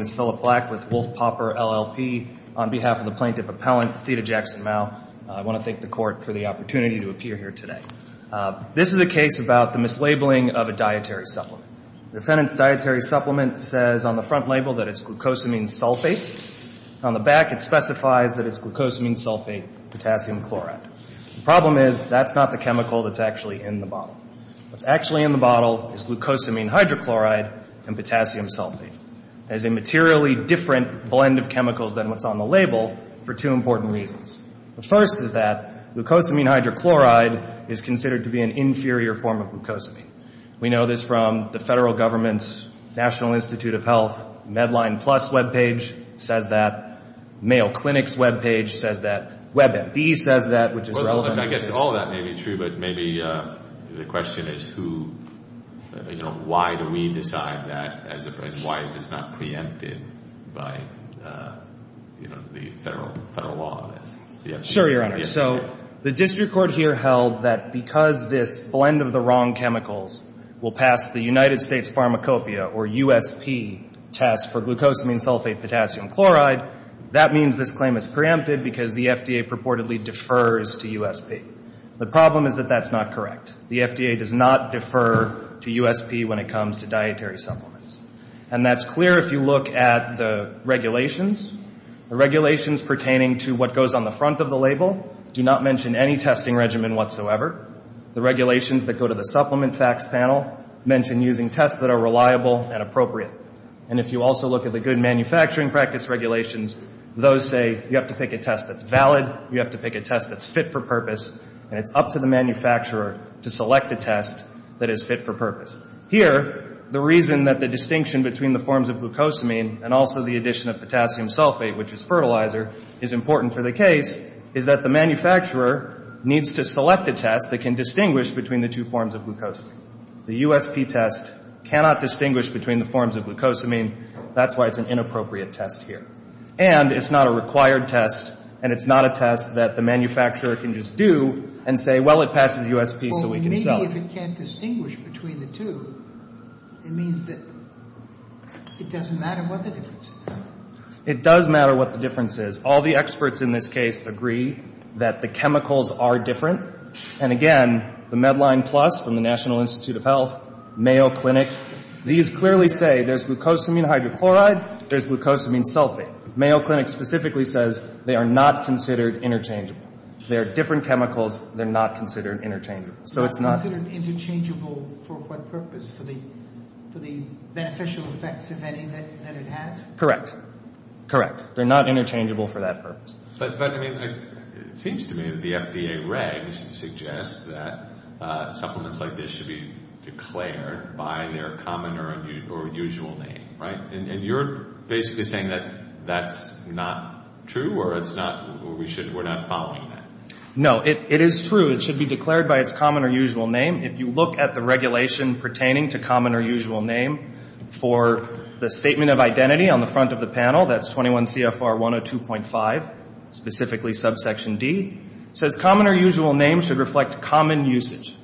My name is Philip Black with Wolf-Popper LLP on behalf of the Plaintiff Appellant Theda Jackson-Mau. I want to thank the Court for the opportunity to appear here today. This is a case about the mislabeling of a dietary supplement. The defendant's dietary supplement says on the front label that it's glucosamine sulfate. On the back, it specifies that it's glucosamine sulfate potassium chloride. The problem is that's not the chemical that's actually in the bottle. What's actually in the bottle is glucosamine hydrochloride and potassium sulfate. It's a materially different blend of chemicals than what's on the label for two important reasons. The first is that glucosamine hydrochloride is considered to be an inferior form of glucosamine. We know this from the federal government's National Institute of Health Medline Plus web page says that, Mayo Clinic's web page says that, WebMD says that, which is relevant. I guess all of that may be true, but maybe the question is who, you know, why do we decide that and why is this not preempted by, you know, the federal law on this? Sure, Your Honor. So the district court here held that because this blend of the wrong chemicals will pass the United States Pharmacopeia or USP test for glucosamine sulfate potassium chloride, that means this claim is preempted because the FDA purportedly defers to USP. The problem is that that's not correct. The FDA does not defer to USP when it comes to dietary supplements. And that's clear if you look at the regulations. The regulations pertaining to what goes on the front of the label do not mention any testing regimen whatsoever. The regulations that go to the supplement facts panel mention using tests that are reliable and appropriate. And if you also look at the good manufacturing practice regulations, those say you have to pick a test that's valid, you have to pick a test that's fit for purpose, and it's up to the manufacturer to select a test that is fit for purpose. Here, the reason that the distinction between the forms of glucosamine and also the addition of potassium sulfate, which is fertilizer, is important for the case is that the manufacturer needs to select a test that can distinguish between the two forms of glucosamine. The USP test cannot distinguish between the forms of glucosamine. That's why it's an inappropriate test here. And it's not a required test, and it's not a test that the manufacturer can just do and say, well, it passes USP so we can sell it. Sotomayor Well, maybe if it can't distinguish between the two, it means that it doesn't matter what the difference is, right? Goldstein It does matter what the difference is. All the experts in this case agree that the chemicals are different. And again, the Medline Plus from the National Institute of Health, Mayo Clinic, these clearly say there's glucosamine hydrochloride, there's glucosamine sulfate. Mayo Clinic specifically says they are not considered interchangeable. They're different chemicals. They're not considered interchangeable. Sotomayor Not considered interchangeable for what purpose? For the beneficial effects, if any, that it has? Goldstein Correct. Correct. They're not interchangeable for that purpose. Sotomayor But, I mean, it seems to me that the FDA regs suggest that supplements like this should be declared by their common or usual name, right? And you're basically saying that that's not true or it's not, we're not following that? Goldstein No. It is true. It should be declared by its common or usual name. If you look at the regulation pertaining to common or usual name for the statement of identity on the front of the panel, that's 21 CFR 102.5, specifically subsection D, says common or usual name should reflect common usage.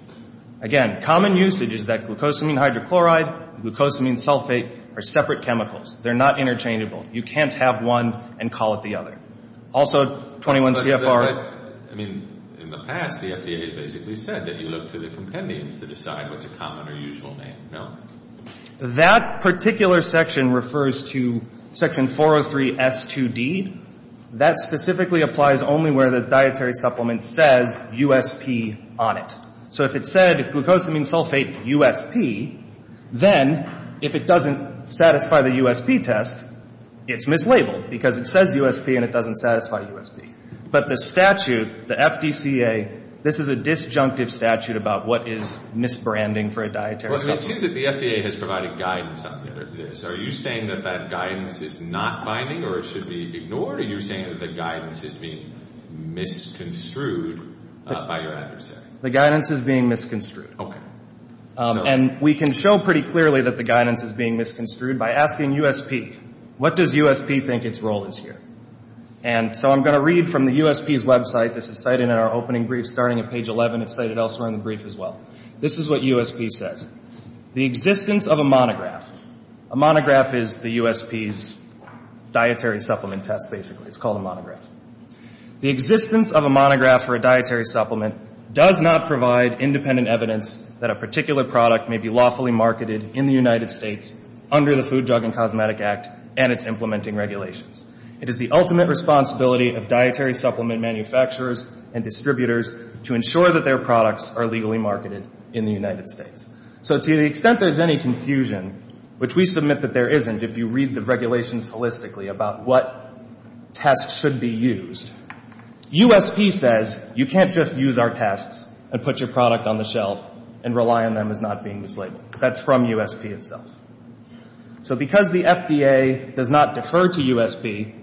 Again, common usage is that glucosamine hydrochloride, glucosamine sulfate are separate chemicals. They're not interchangeable. You can't have one and call it the other. Also 21 CFR. Sotomayor But, I mean, in the past, the FDA has basically said that you look to the compendiums to decide what's a common or usual name, no? Goldstein That particular section refers to section 403 S2D. That specifically applies only where the dietary supplement says USP on it. So if it said, if glucosamine sulfate USP, then if it doesn't satisfy the USP test, it's mislabeled because it says USP and it doesn't satisfy USP. But the statute, the FDCA, this is a disjunctive statute about what is misbranding for a dietary supplement. Sotomayor Well, it seems that the FDA has provided guidance on this. Are you saying that that guidance is not binding or it should be ignored, or are you saying that the guidance is being misconstrued by your adversary? Goldstein The guidance is being misconstrued. And we can show pretty clearly that the guidance is being misconstrued by asking USP. What does USP think its role is here? And so I'm going to read from the USP's website, this is cited in our opening brief starting at page 11, it's cited elsewhere in the brief as well. This is what USP says. The existence of a monograph. A monograph is the USP's dietary supplement test, basically. It's called a monograph. The existence of a monograph or a dietary supplement does not provide independent evidence that a particular product may be lawfully marketed in the United States under the Food, Drug, and Cosmetic Act and its implementing regulations. It is the ultimate responsibility of dietary supplement manufacturers and distributors to ensure that their products are legally marketed in the United States. So to the extent there's any confusion, which we submit that there isn't if you read the USP says, you can't just use our tests and put your product on the shelf and rely on them as not being mislabeled. That's from USP itself. So because the FDA does not defer to USP,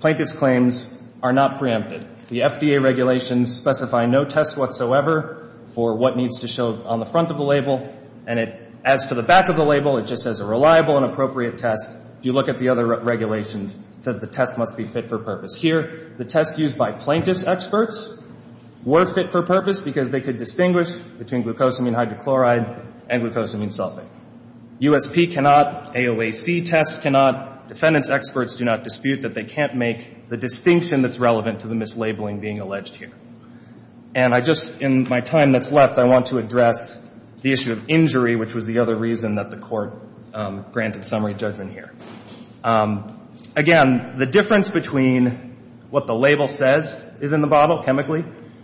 Plankett's claims are not preempted. The FDA regulations specify no test whatsoever for what needs to show on the front of the label and it, as for the back of the label, it just says a reliable and appropriate test. If you look at the other regulations, it says the test must be fit for purpose. Here, the test used by Plankett's experts were fit for purpose because they could distinguish between glucosamine hydrochloride and glucosamine sulfate. USP cannot, AOAC test cannot, defendants' experts do not dispute that they can't make the distinction that's relevant to the mislabeling being alleged here. And I just, in my time that's left, I want to address the issue of injury, which was the other reason that the court granted summary judgment here. Again, the difference between what the label says is in the bottle, chemically,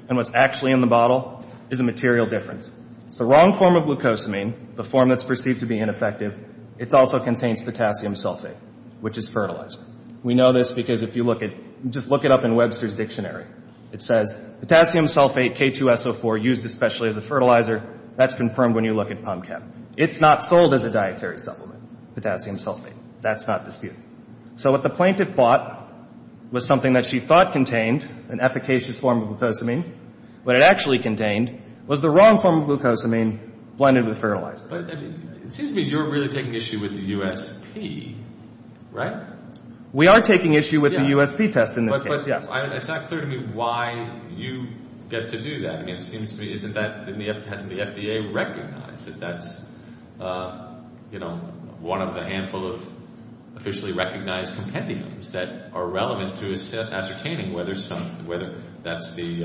and what's actually in the bottle is a material difference. It's the wrong form of glucosamine, the form that's perceived to be ineffective. It also contains potassium sulfate, which is fertilizer. We know this because if you look at, just look it up in Webster's Dictionary. It says potassium sulfate, K2SO4, used especially as a fertilizer, that's confirmed when you look at pump chem. It's not sold as a dietary supplement, potassium sulfate. That's not disputed. So what the Plankett thought was something that she thought contained an efficacious form of glucosamine, what it actually contained was the wrong form of glucosamine blended with fertilizer. But it seems to me you're really taking issue with the USP, right? We are taking issue with the USP test in this case. But it's not clear to me why you get to do that. I mean, it seems to me, isn't that, hasn't the FDA recognized that that's, you know, one of the handful of officially recognized compendiums that are relevant to ascertaining whether some, whether that's the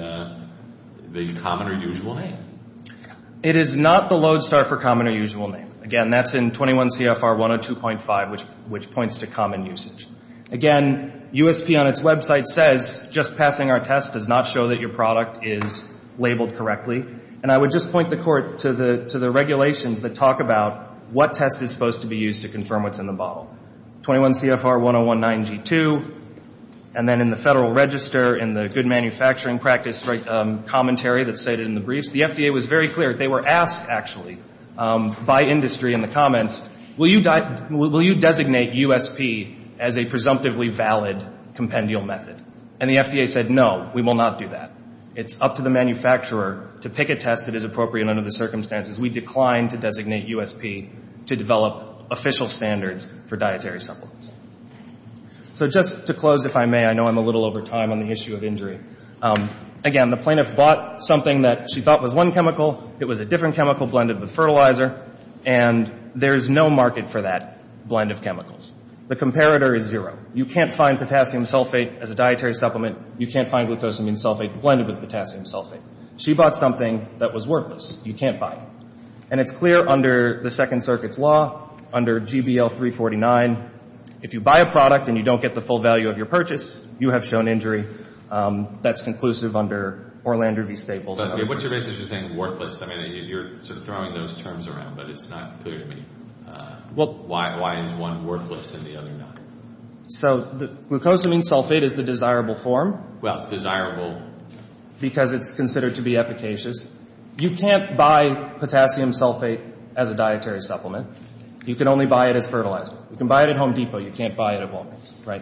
common or usual name? It is not the lodestar for common or usual name. Again, that's in 21 CFR 102.5, which points to common usage. Again, USP on its website says, just passing our test does not show that your product is labeled correctly. And I would just point the court to the regulations that talk about what test is supposed to be used to confirm what's in the bottle. 21 CFR 1019G2, and then in the Federal Register, in the Good Manufacturing Practice commentary that's stated in the briefs, the FDA was very clear. They were asked, actually, by industry in the comments, will you designate USP as a presumptively valid compendial method? And the FDA said, no, we will not do that. It's up to the manufacturer to pick a test that is appropriate under the circumstances. We decline to designate USP to develop official standards for dietary supplements. So just to close, if I may, I know I'm a little over time on the issue of injury. Again, the plaintiff bought something that she thought was one chemical. It was a different chemical blended with fertilizer. And there is no market for that blend of chemicals. The comparator is zero. You can't find potassium sulfate as a dietary supplement. You can't find glucosamine sulfate blended with potassium sulfate. She bought something that was worthless. You can't buy it. And it's clear under the Second Circuit's law, under GBL 349, if you buy a product and you don't get the full value of your purchase, you have shown injury. That's conclusive under Orlander v. Staples. But what you're basically saying, worthless, I mean, you're sort of throwing those terms around, but it's not clear to me. Why is one worthless and the other not? So glucosamine sulfate is the desirable form. Well, desirable. Because it's considered to be efficacious. You can't buy potassium sulfate as a dietary supplement. You can only buy it as fertilizer. You can buy it at Home Depot. You can't buy it at Walgreens, right?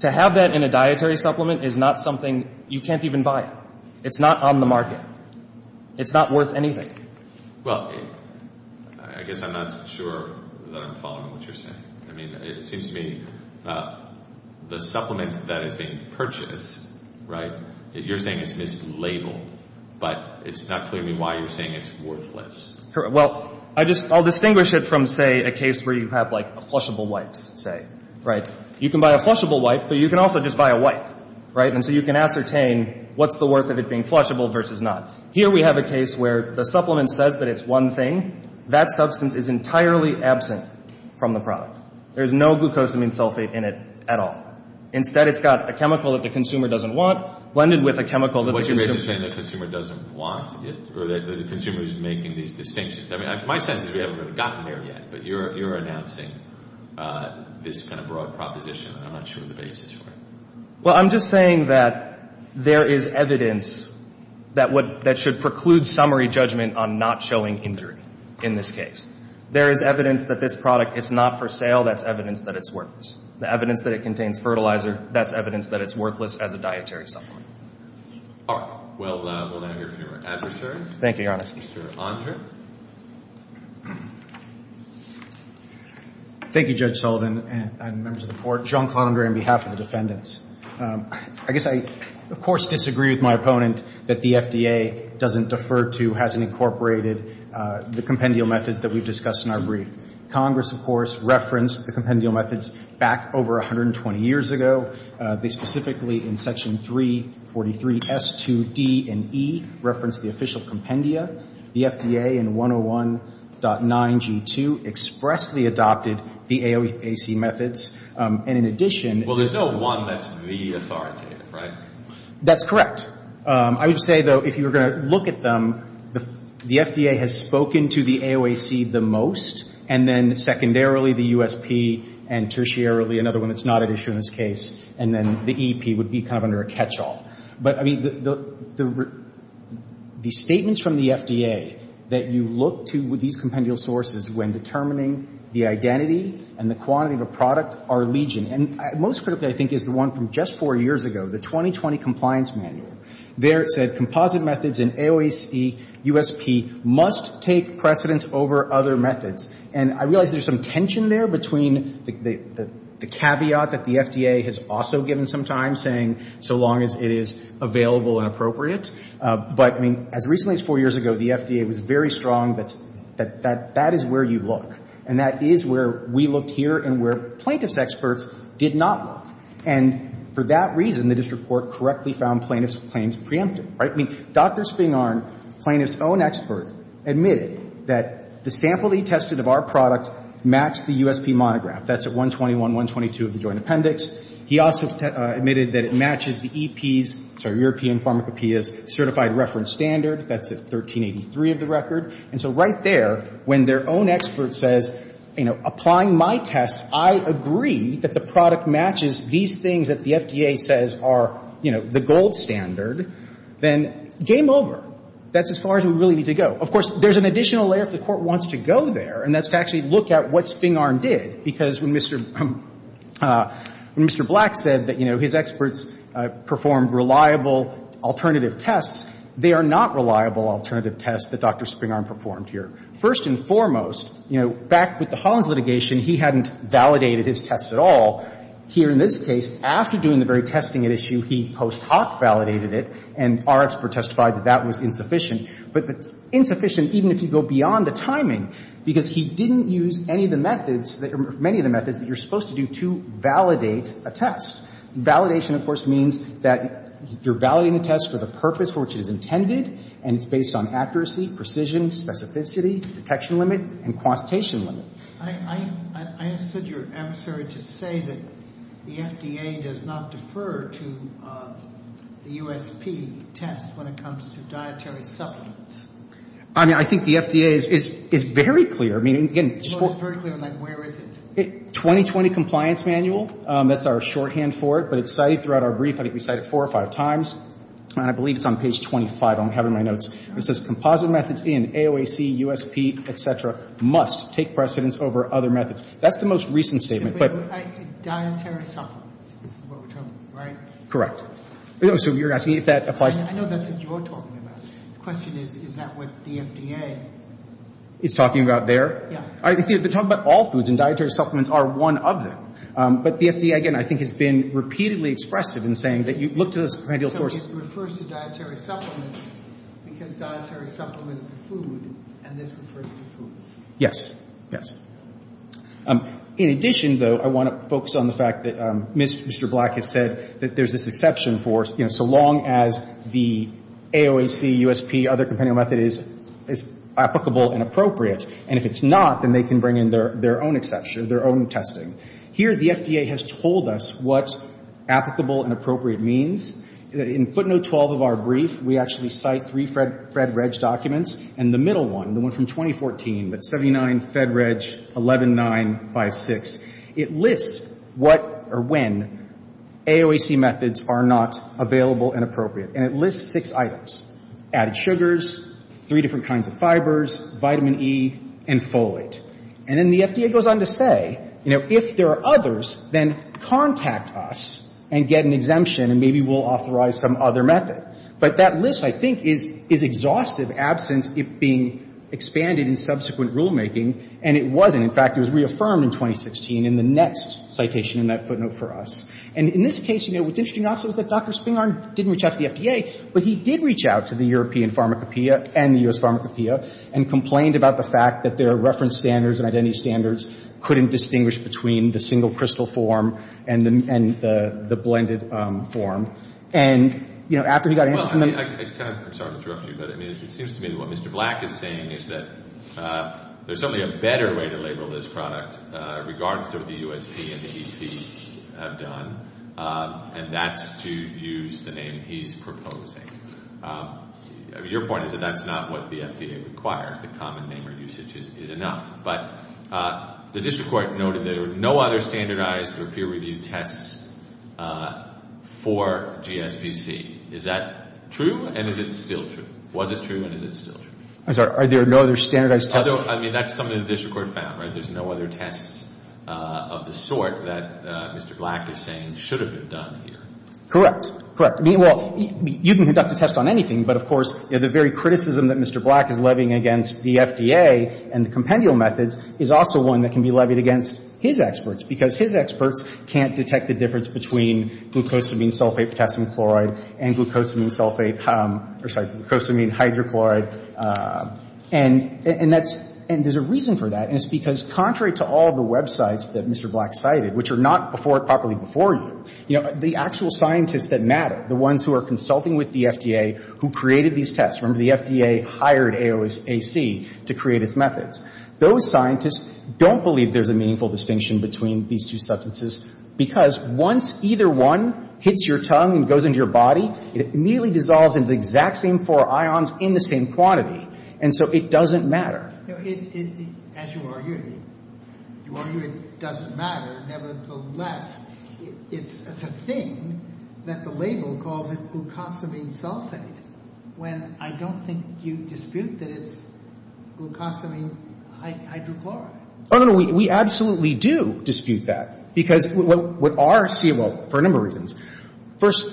To have that in a dietary supplement is not something you can't even buy. It's not on the market. It's not worth anything. Well, I guess I'm not sure that I'm following what you're saying. I mean, it seems to me the supplement that is being purchased, right, you're saying it's mislabeled, but it's not clear to me why you're saying it's worthless. Well, I just, I'll distinguish it from, say, a case where you have, like, a flushable wipe, say, right? You can buy a flushable wipe, but you can also just buy a wipe, right? And so you can ascertain what's the worth of it being flushable versus not. Here we have a case where the supplement says that it's one thing. That substance is entirely absent from the product. There's no glucosamine sulfate in it at all. Instead, it's got a chemical that the consumer doesn't want blended with a chemical that the consumer What you're basically saying is that the consumer doesn't want it, or that the consumer is making these distinctions. I mean, my sense is we haven't really gotten there yet, but you're announcing this kind of broad proposition. I'm not sure what the basis for it. Well, I'm just saying that there is evidence that should preclude summary judgment on not showing injury in this case. There is evidence that this product is not for sale. That's evidence that it's worthless. The evidence that it contains fertilizer, that's evidence that it's worthless as a dietary supplement. All right. Well, we'll now hear from your adversaries. Thank you, Your Honor. Mr. Andre. Thank you, Judge Sullivan and members of the Court. I'm John Clondon, on behalf of the defendants. I guess I, of course, disagree with my opponent that the FDA doesn't defer to, hasn't incorporated the compendial methods that we've discussed in our brief. Congress, of course, referenced the compendial methods back over 120 years ago. They specifically, in Section 343S2D and E, referenced the official compendia. The FDA in 101.9G2 expressly adopted the AOAC methods. And in addition — Well, there's no one that's the authoritative, right? That's correct. I would say, though, if you were going to look at them, the FDA has spoken to the AOAC the most, and then secondarily, the USP, and tertiarily, another one that's not at issue in this case, and then the EEP would be kind of under a catch-all. But, I mean, the statements from the FDA that you look to with these compendial sources when determining the identity and the quantity of a product are legion. And most critically, I think, is the one from just four years ago, the 2020 Compliance Manual. There, it said composite methods in AOAC, USP must take precedence over other methods. And I realize there's some tension there between the caveat that the FDA has also given some time, saying so long as it is available and appropriate. But, I mean, as recently as four years ago, the FDA was very strong that that is where you look. And that is where we looked here and where plaintiff's experts did not look. And for that reason, the district court correctly found plaintiff's claims preemptive, right? I mean, Dr. Spingarn, plaintiff's own expert, admitted that the sample he tested of our product matched the USP monograph. That's at 121, 122 of the joint appendix. He also admitted that it matches the EEP's, sorry, European Pharmacopeia's certified reference standard. That's at 1383 of the record. And so right there, when their own expert says, you know, applying my tests, I agree that the product matches these things that the FDA says are, you know, the gold standard. Then game over. That's as far as we really need to go. Of course, there's an additional layer if the Court wants to go there, and that's to actually look at what Spingarn did. Because when Mr. Black said that, you know, his experts performed reliable alternative tests, they are not reliable alternative tests that Dr. Spingarn performed here. First and foremost, you know, back with the Hollins litigation, he hadn't validated his tests at all. Here in this case, after doing the very testing at issue, he post hoc validated it, and our expert testified that that was insufficient. But it's insufficient even if you go beyond the timing, because he didn't use any of the methods, many of the methods that you're supposed to do to validate a test. Validation, of course, means that you're validating a test for the purpose for which it is intended, and it's based on accuracy, precision, specificity, detection limit, and quantitation limit. I understood your answer to say that the FDA does not defer to the USP test when it comes to dietary supplements. I mean, I think the FDA is very clear. I mean, again, just for... It's very clear, like where is it? 2020 Compliance Manual, that's our shorthand for it, but it's cited throughout our brief. I think we cite it four or five times, and I believe it's on page 25. I don't have it in my notes. It says composite methods in AOAC, USP, et cetera, must take precedence over other methods. That's the most recent statement, but... Dietary supplements, this is what we're talking about, right? Correct. So you're asking if that applies to... I know that's what you're talking about. The question is, is that what the FDA is talking about there? Yeah. They're talking about all foods, and dietary supplements are one of them. But the FDA, again, I think has been repeatedly expressive in saying that you look to this kind of source... So it refers to dietary supplements because dietary supplements are food, and this refers to foods. Yes. Yes. In addition, though, I want to focus on the fact that Mr. Black has said that there's this exception for, you know, so long as the AOAC, USP, other compendium method is applicable and appropriate. And if it's not, then they can bring in their own exception, their own testing. Here, the FDA has told us what applicable and appropriate means. In footnote 12 of our brief, we actually cite three FEDREG documents, and the middle one, the one from 2014, that's 79 FEDREG 11956, it lists what or when AOAC methods are not available and appropriate. And it lists six items, added sugars, three different kinds of fibers, vitamin E, and folate. And then the FDA goes on to say, you know, if there are others, then contact us and get an exemption, and maybe we'll authorize some other method. But that list, I think, is exhaustive, absent it being expanded in subsequent rulemaking, and it wasn't. In fact, it was reaffirmed in 2016 in the next citation in that footnote for us. And in this case, you know, what's interesting also is that Dr. Spingarn didn't reach out to the FDA, but he did reach out to the European Pharmacopeia and the U.S. Pharmacopeia and complained about the fact that their reference standards and identity standards couldn't distinguish between the single crystal form and the blended form. And, you know, after he got an answer from them... Well, I kind of, I'm sorry to interrupt you, but I mean, it seems to me that what Mr. Black is saying is that there's only a better way to label this product, regardless of what the USP and the EP have done, and that's to use the name he's proposing. I mean, your point is that that's not what the FDA requires. The common name or usage is enough. But the district court noted there are no other standardized or peer-reviewed tests for GSVC. Is that true, and is it still true? Was it true, and is it still true? I'm sorry, are there no other standardized tests? I mean, that's something the district court found, right? There's no other tests of the sort that Mr. Black is saying should have been done here. Correct. Correct. Well, you can conduct a test on anything, but, of course, the very criticism that Mr. Black is levying against the FDA and the compendial methods is also one that can be levied against his experts, because his experts can't detect the difference between glucosamine sulfate potassium chloride and glucosamine sulfate, I'm sorry, glucosamine hydrochloride. And that's, and there's a reason for that, and it's because contrary to all the websites that Mr. Black cited, which are not before it properly before you, you know, the actual scientists that matter, the ones who are consulting with the FDA who created these tests. Remember, the FDA hired AOSAC to create its methods. Those scientists don't believe there's a meaningful distinction between these two substances because once either one hits your tongue and goes into your body, it immediately dissolves into the exact same four ions in the same quantity. And so it doesn't matter. Sotomayor, as you argue, you argue it doesn't matter. Nevertheless, it's a thing that the label calls it glucosamine sulfate, when I don't think you dispute that it's glucosamine hydrochloride. Oh, no, no. We absolutely do dispute that, because what our COA, for a number of reasons. First,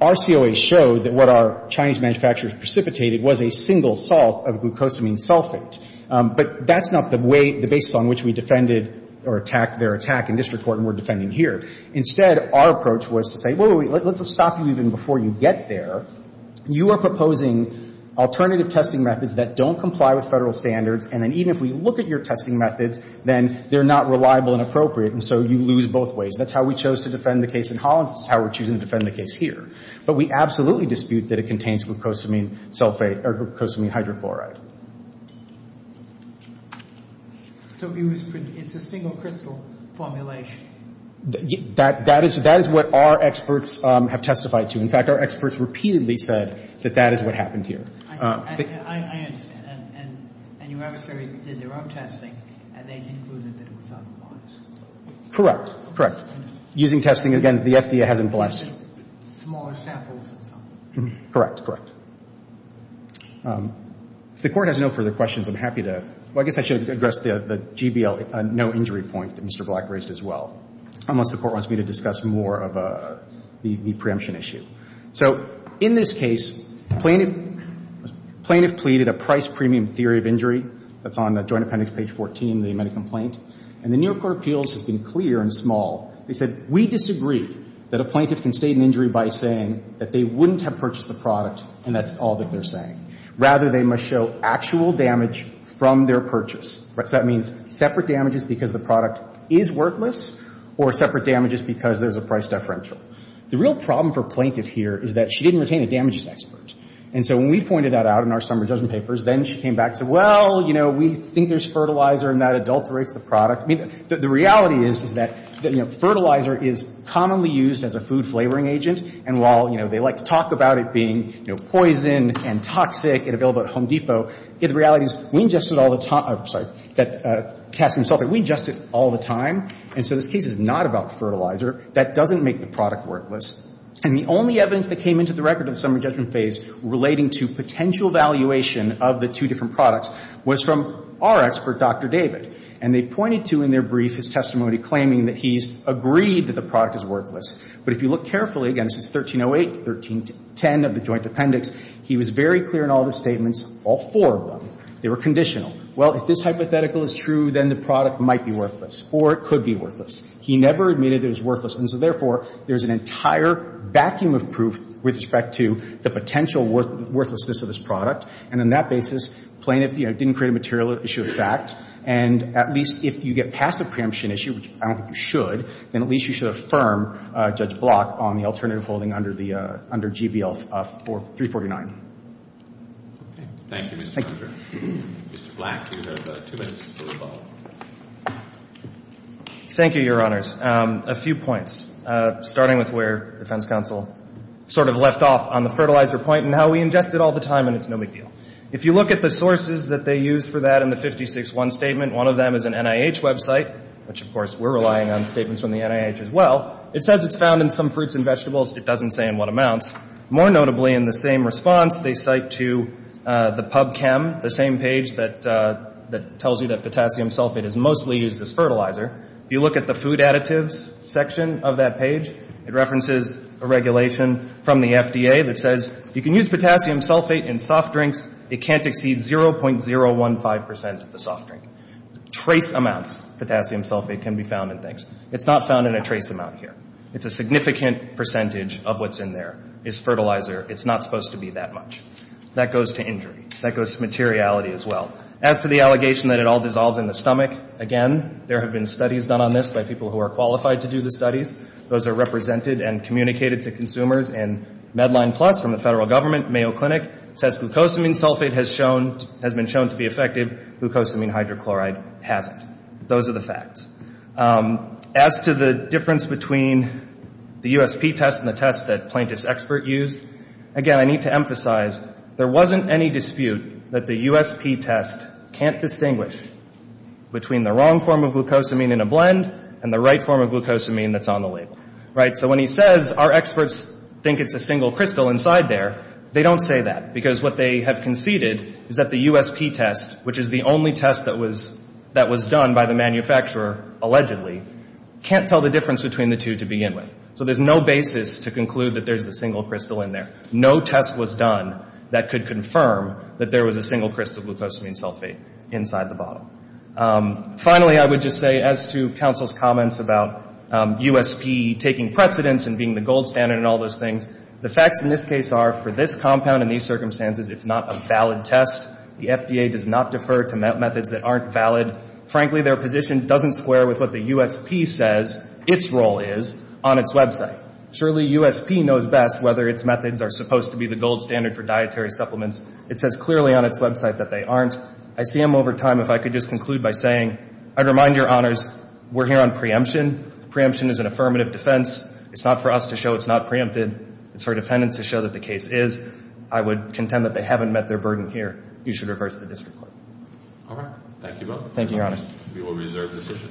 our COA showed that what our Chinese manufacturers precipitated was a single salt of glucosamine sulfate. But that's not the way, the basis on which we defended or attacked their attack in district court and we're defending here. Instead, our approach was to say, wait, wait, wait, let's stop you even before you get there. You are proposing alternative testing methods that don't comply with federal standards. And then even if we look at your testing methods, then they're not reliable and appropriate. And so you lose both ways. That's how we chose to defend the case in Holland. That's how we're choosing to defend the case here. But we absolutely dispute that it contains glucosamine sulfate or glucosamine hydrochloride. So it's a single crystal formulation? That is what our experts have testified to. In fact, our experts repeatedly said that that is what happened here. I understand. And your adversary did their own testing, and they concluded that it was unbiased. Correct. Correct. Using testing, again, the FDA hasn't blessed you. Smaller samples and so on. Correct. Correct. If the Court has no further questions, I'm happy to – well, I guess I should address the GBL no-injury point that Mr. Black raised as well, unless the Court wants me to discuss more of the preemption issue. So in this case, plaintiff pleaded a price-premium theory of injury. That's on the Joint Appendix, page 14, the amended complaint. And the New York Court of Appeals has been clear and small. They said, we disagree that a plaintiff can state an injury by saying that they wouldn't have purchased the product and that's all that they're saying. Rather, they must show actual damage from their purchase. So that means separate damages because the product is worthless or separate damages because there's a price deferential. The real problem for plaintiff here is that she didn't retain a damages expert. And so when we pointed that out in our summary judgment papers, then she came back and said, well, you know, we think there's fertilizer and that adulterates the product. I mean, the reality is, is that, you know, fertilizer is commonly used as a food-flavoring agent. And while, you know, they like to talk about it being, you know, poison and toxic and available at Home Depot, the reality is we ingested all the time. I'm sorry. Cass himself said, we ingest it all the time. And so this case is not about fertilizer. That doesn't make the product worthless. And the only evidence that came into the record in the summary judgment phase relating to potential valuation of the two different products was from our expert, Dr. David. And they pointed to in their brief his testimony claiming that he's agreed that the product is worthless. But if you look carefully, again, this is 1308 to 1310 of the Joint Appendix, he was very clear in all of his statements, all four of them, they were conditional. Well, if this hypothetical is true, then the product might be worthless or it could be worthless. He never admitted it was worthless. And so, therefore, there's an entire vacuum of proof with respect to the potential worthlessness of this product. And on that basis, plaintiff, you know, didn't create a material issue of fact. And at least if you get past the preemption issue, which I don't think you should, then at least you should affirm Judge Block on the alternative holding under the — under GBL 349. Thank you, Mr. Hunter. Mr. Black, you have two minutes to rebuttal. Thank you, Your Honors. A few points, starting with where Defense Counsel sort of left off on the fertilizer point and how we ingest it all the time and it's no big deal. If you look at the sources that they use for that in the 56-1 statement, one of them is an NIH website, which, of course, we're relying on statements from the NIH as well. It says it's found in some fruits and vegetables. It doesn't say in what amounts. More notably, in the same response, they cite to the PubChem, the same page that tells you that potassium sulfate is mostly used as fertilizer. If you look at the food additives section of that page, it references a regulation from the FDA that says you can use potassium sulfate in soft drinks. It can't exceed 0.015 percent of the soft drink. Trace amounts of potassium sulfate can be found in things. It's not found in a trace amount here. It's a significant percentage of what's in there is fertilizer. It's not supposed to be that much. That goes to injury. That goes to materiality as well. As to the allegation that it all dissolves in the stomach, again, there have been studies done on this by people who are qualified to do the studies. Those are represented and communicated to consumers. And MedlinePlus from the federal government, Mayo Clinic, says glucosamine sulfate has been shown to be effective. Glucosamine hydrochloride hasn't. Those are the facts. As to the difference between the USP test and the test that Plaintiff's Expert used, again, I need to emphasize, there wasn't any dispute that the USP test can't distinguish between the wrong form of glucosamine in a blend and the right form of glucosamine that's on the label. Right? So when he says our experts think it's a single crystal inside there, they don't say that. Because what they have conceded is that the USP test, which is the only test that was done by the manufacturer, allegedly, can't tell the difference between the two to begin with. So there's no basis to conclude that there's a single crystal in there. No test was done that could confirm that there was a single crystal of glucosamine sulfate inside the bottle. Finally, I would just say, as to counsel's comments about USP taking precedence and being the gold standard and all those things, the facts in this case are, for this compound and these circumstances, it's not a valid test. The FDA does not defer to methods that aren't valid. Frankly, their position doesn't square with what the USP says its role is on its website. Surely USP knows best whether its methods are supposed to be the gold standard for dietary supplements. It says clearly on its website that they aren't. I see them over time. If I could just conclude by saying, I'd remind your honors, we're here on preemption. Preemption is an affirmative defense. It's not for us to show it's not preempted. It's for defendants to show that the case is. I would contend that they haven't met their burden here. You should reverse the district court. All right. Thank you both. Thank you, your honors. We will reserve this issue.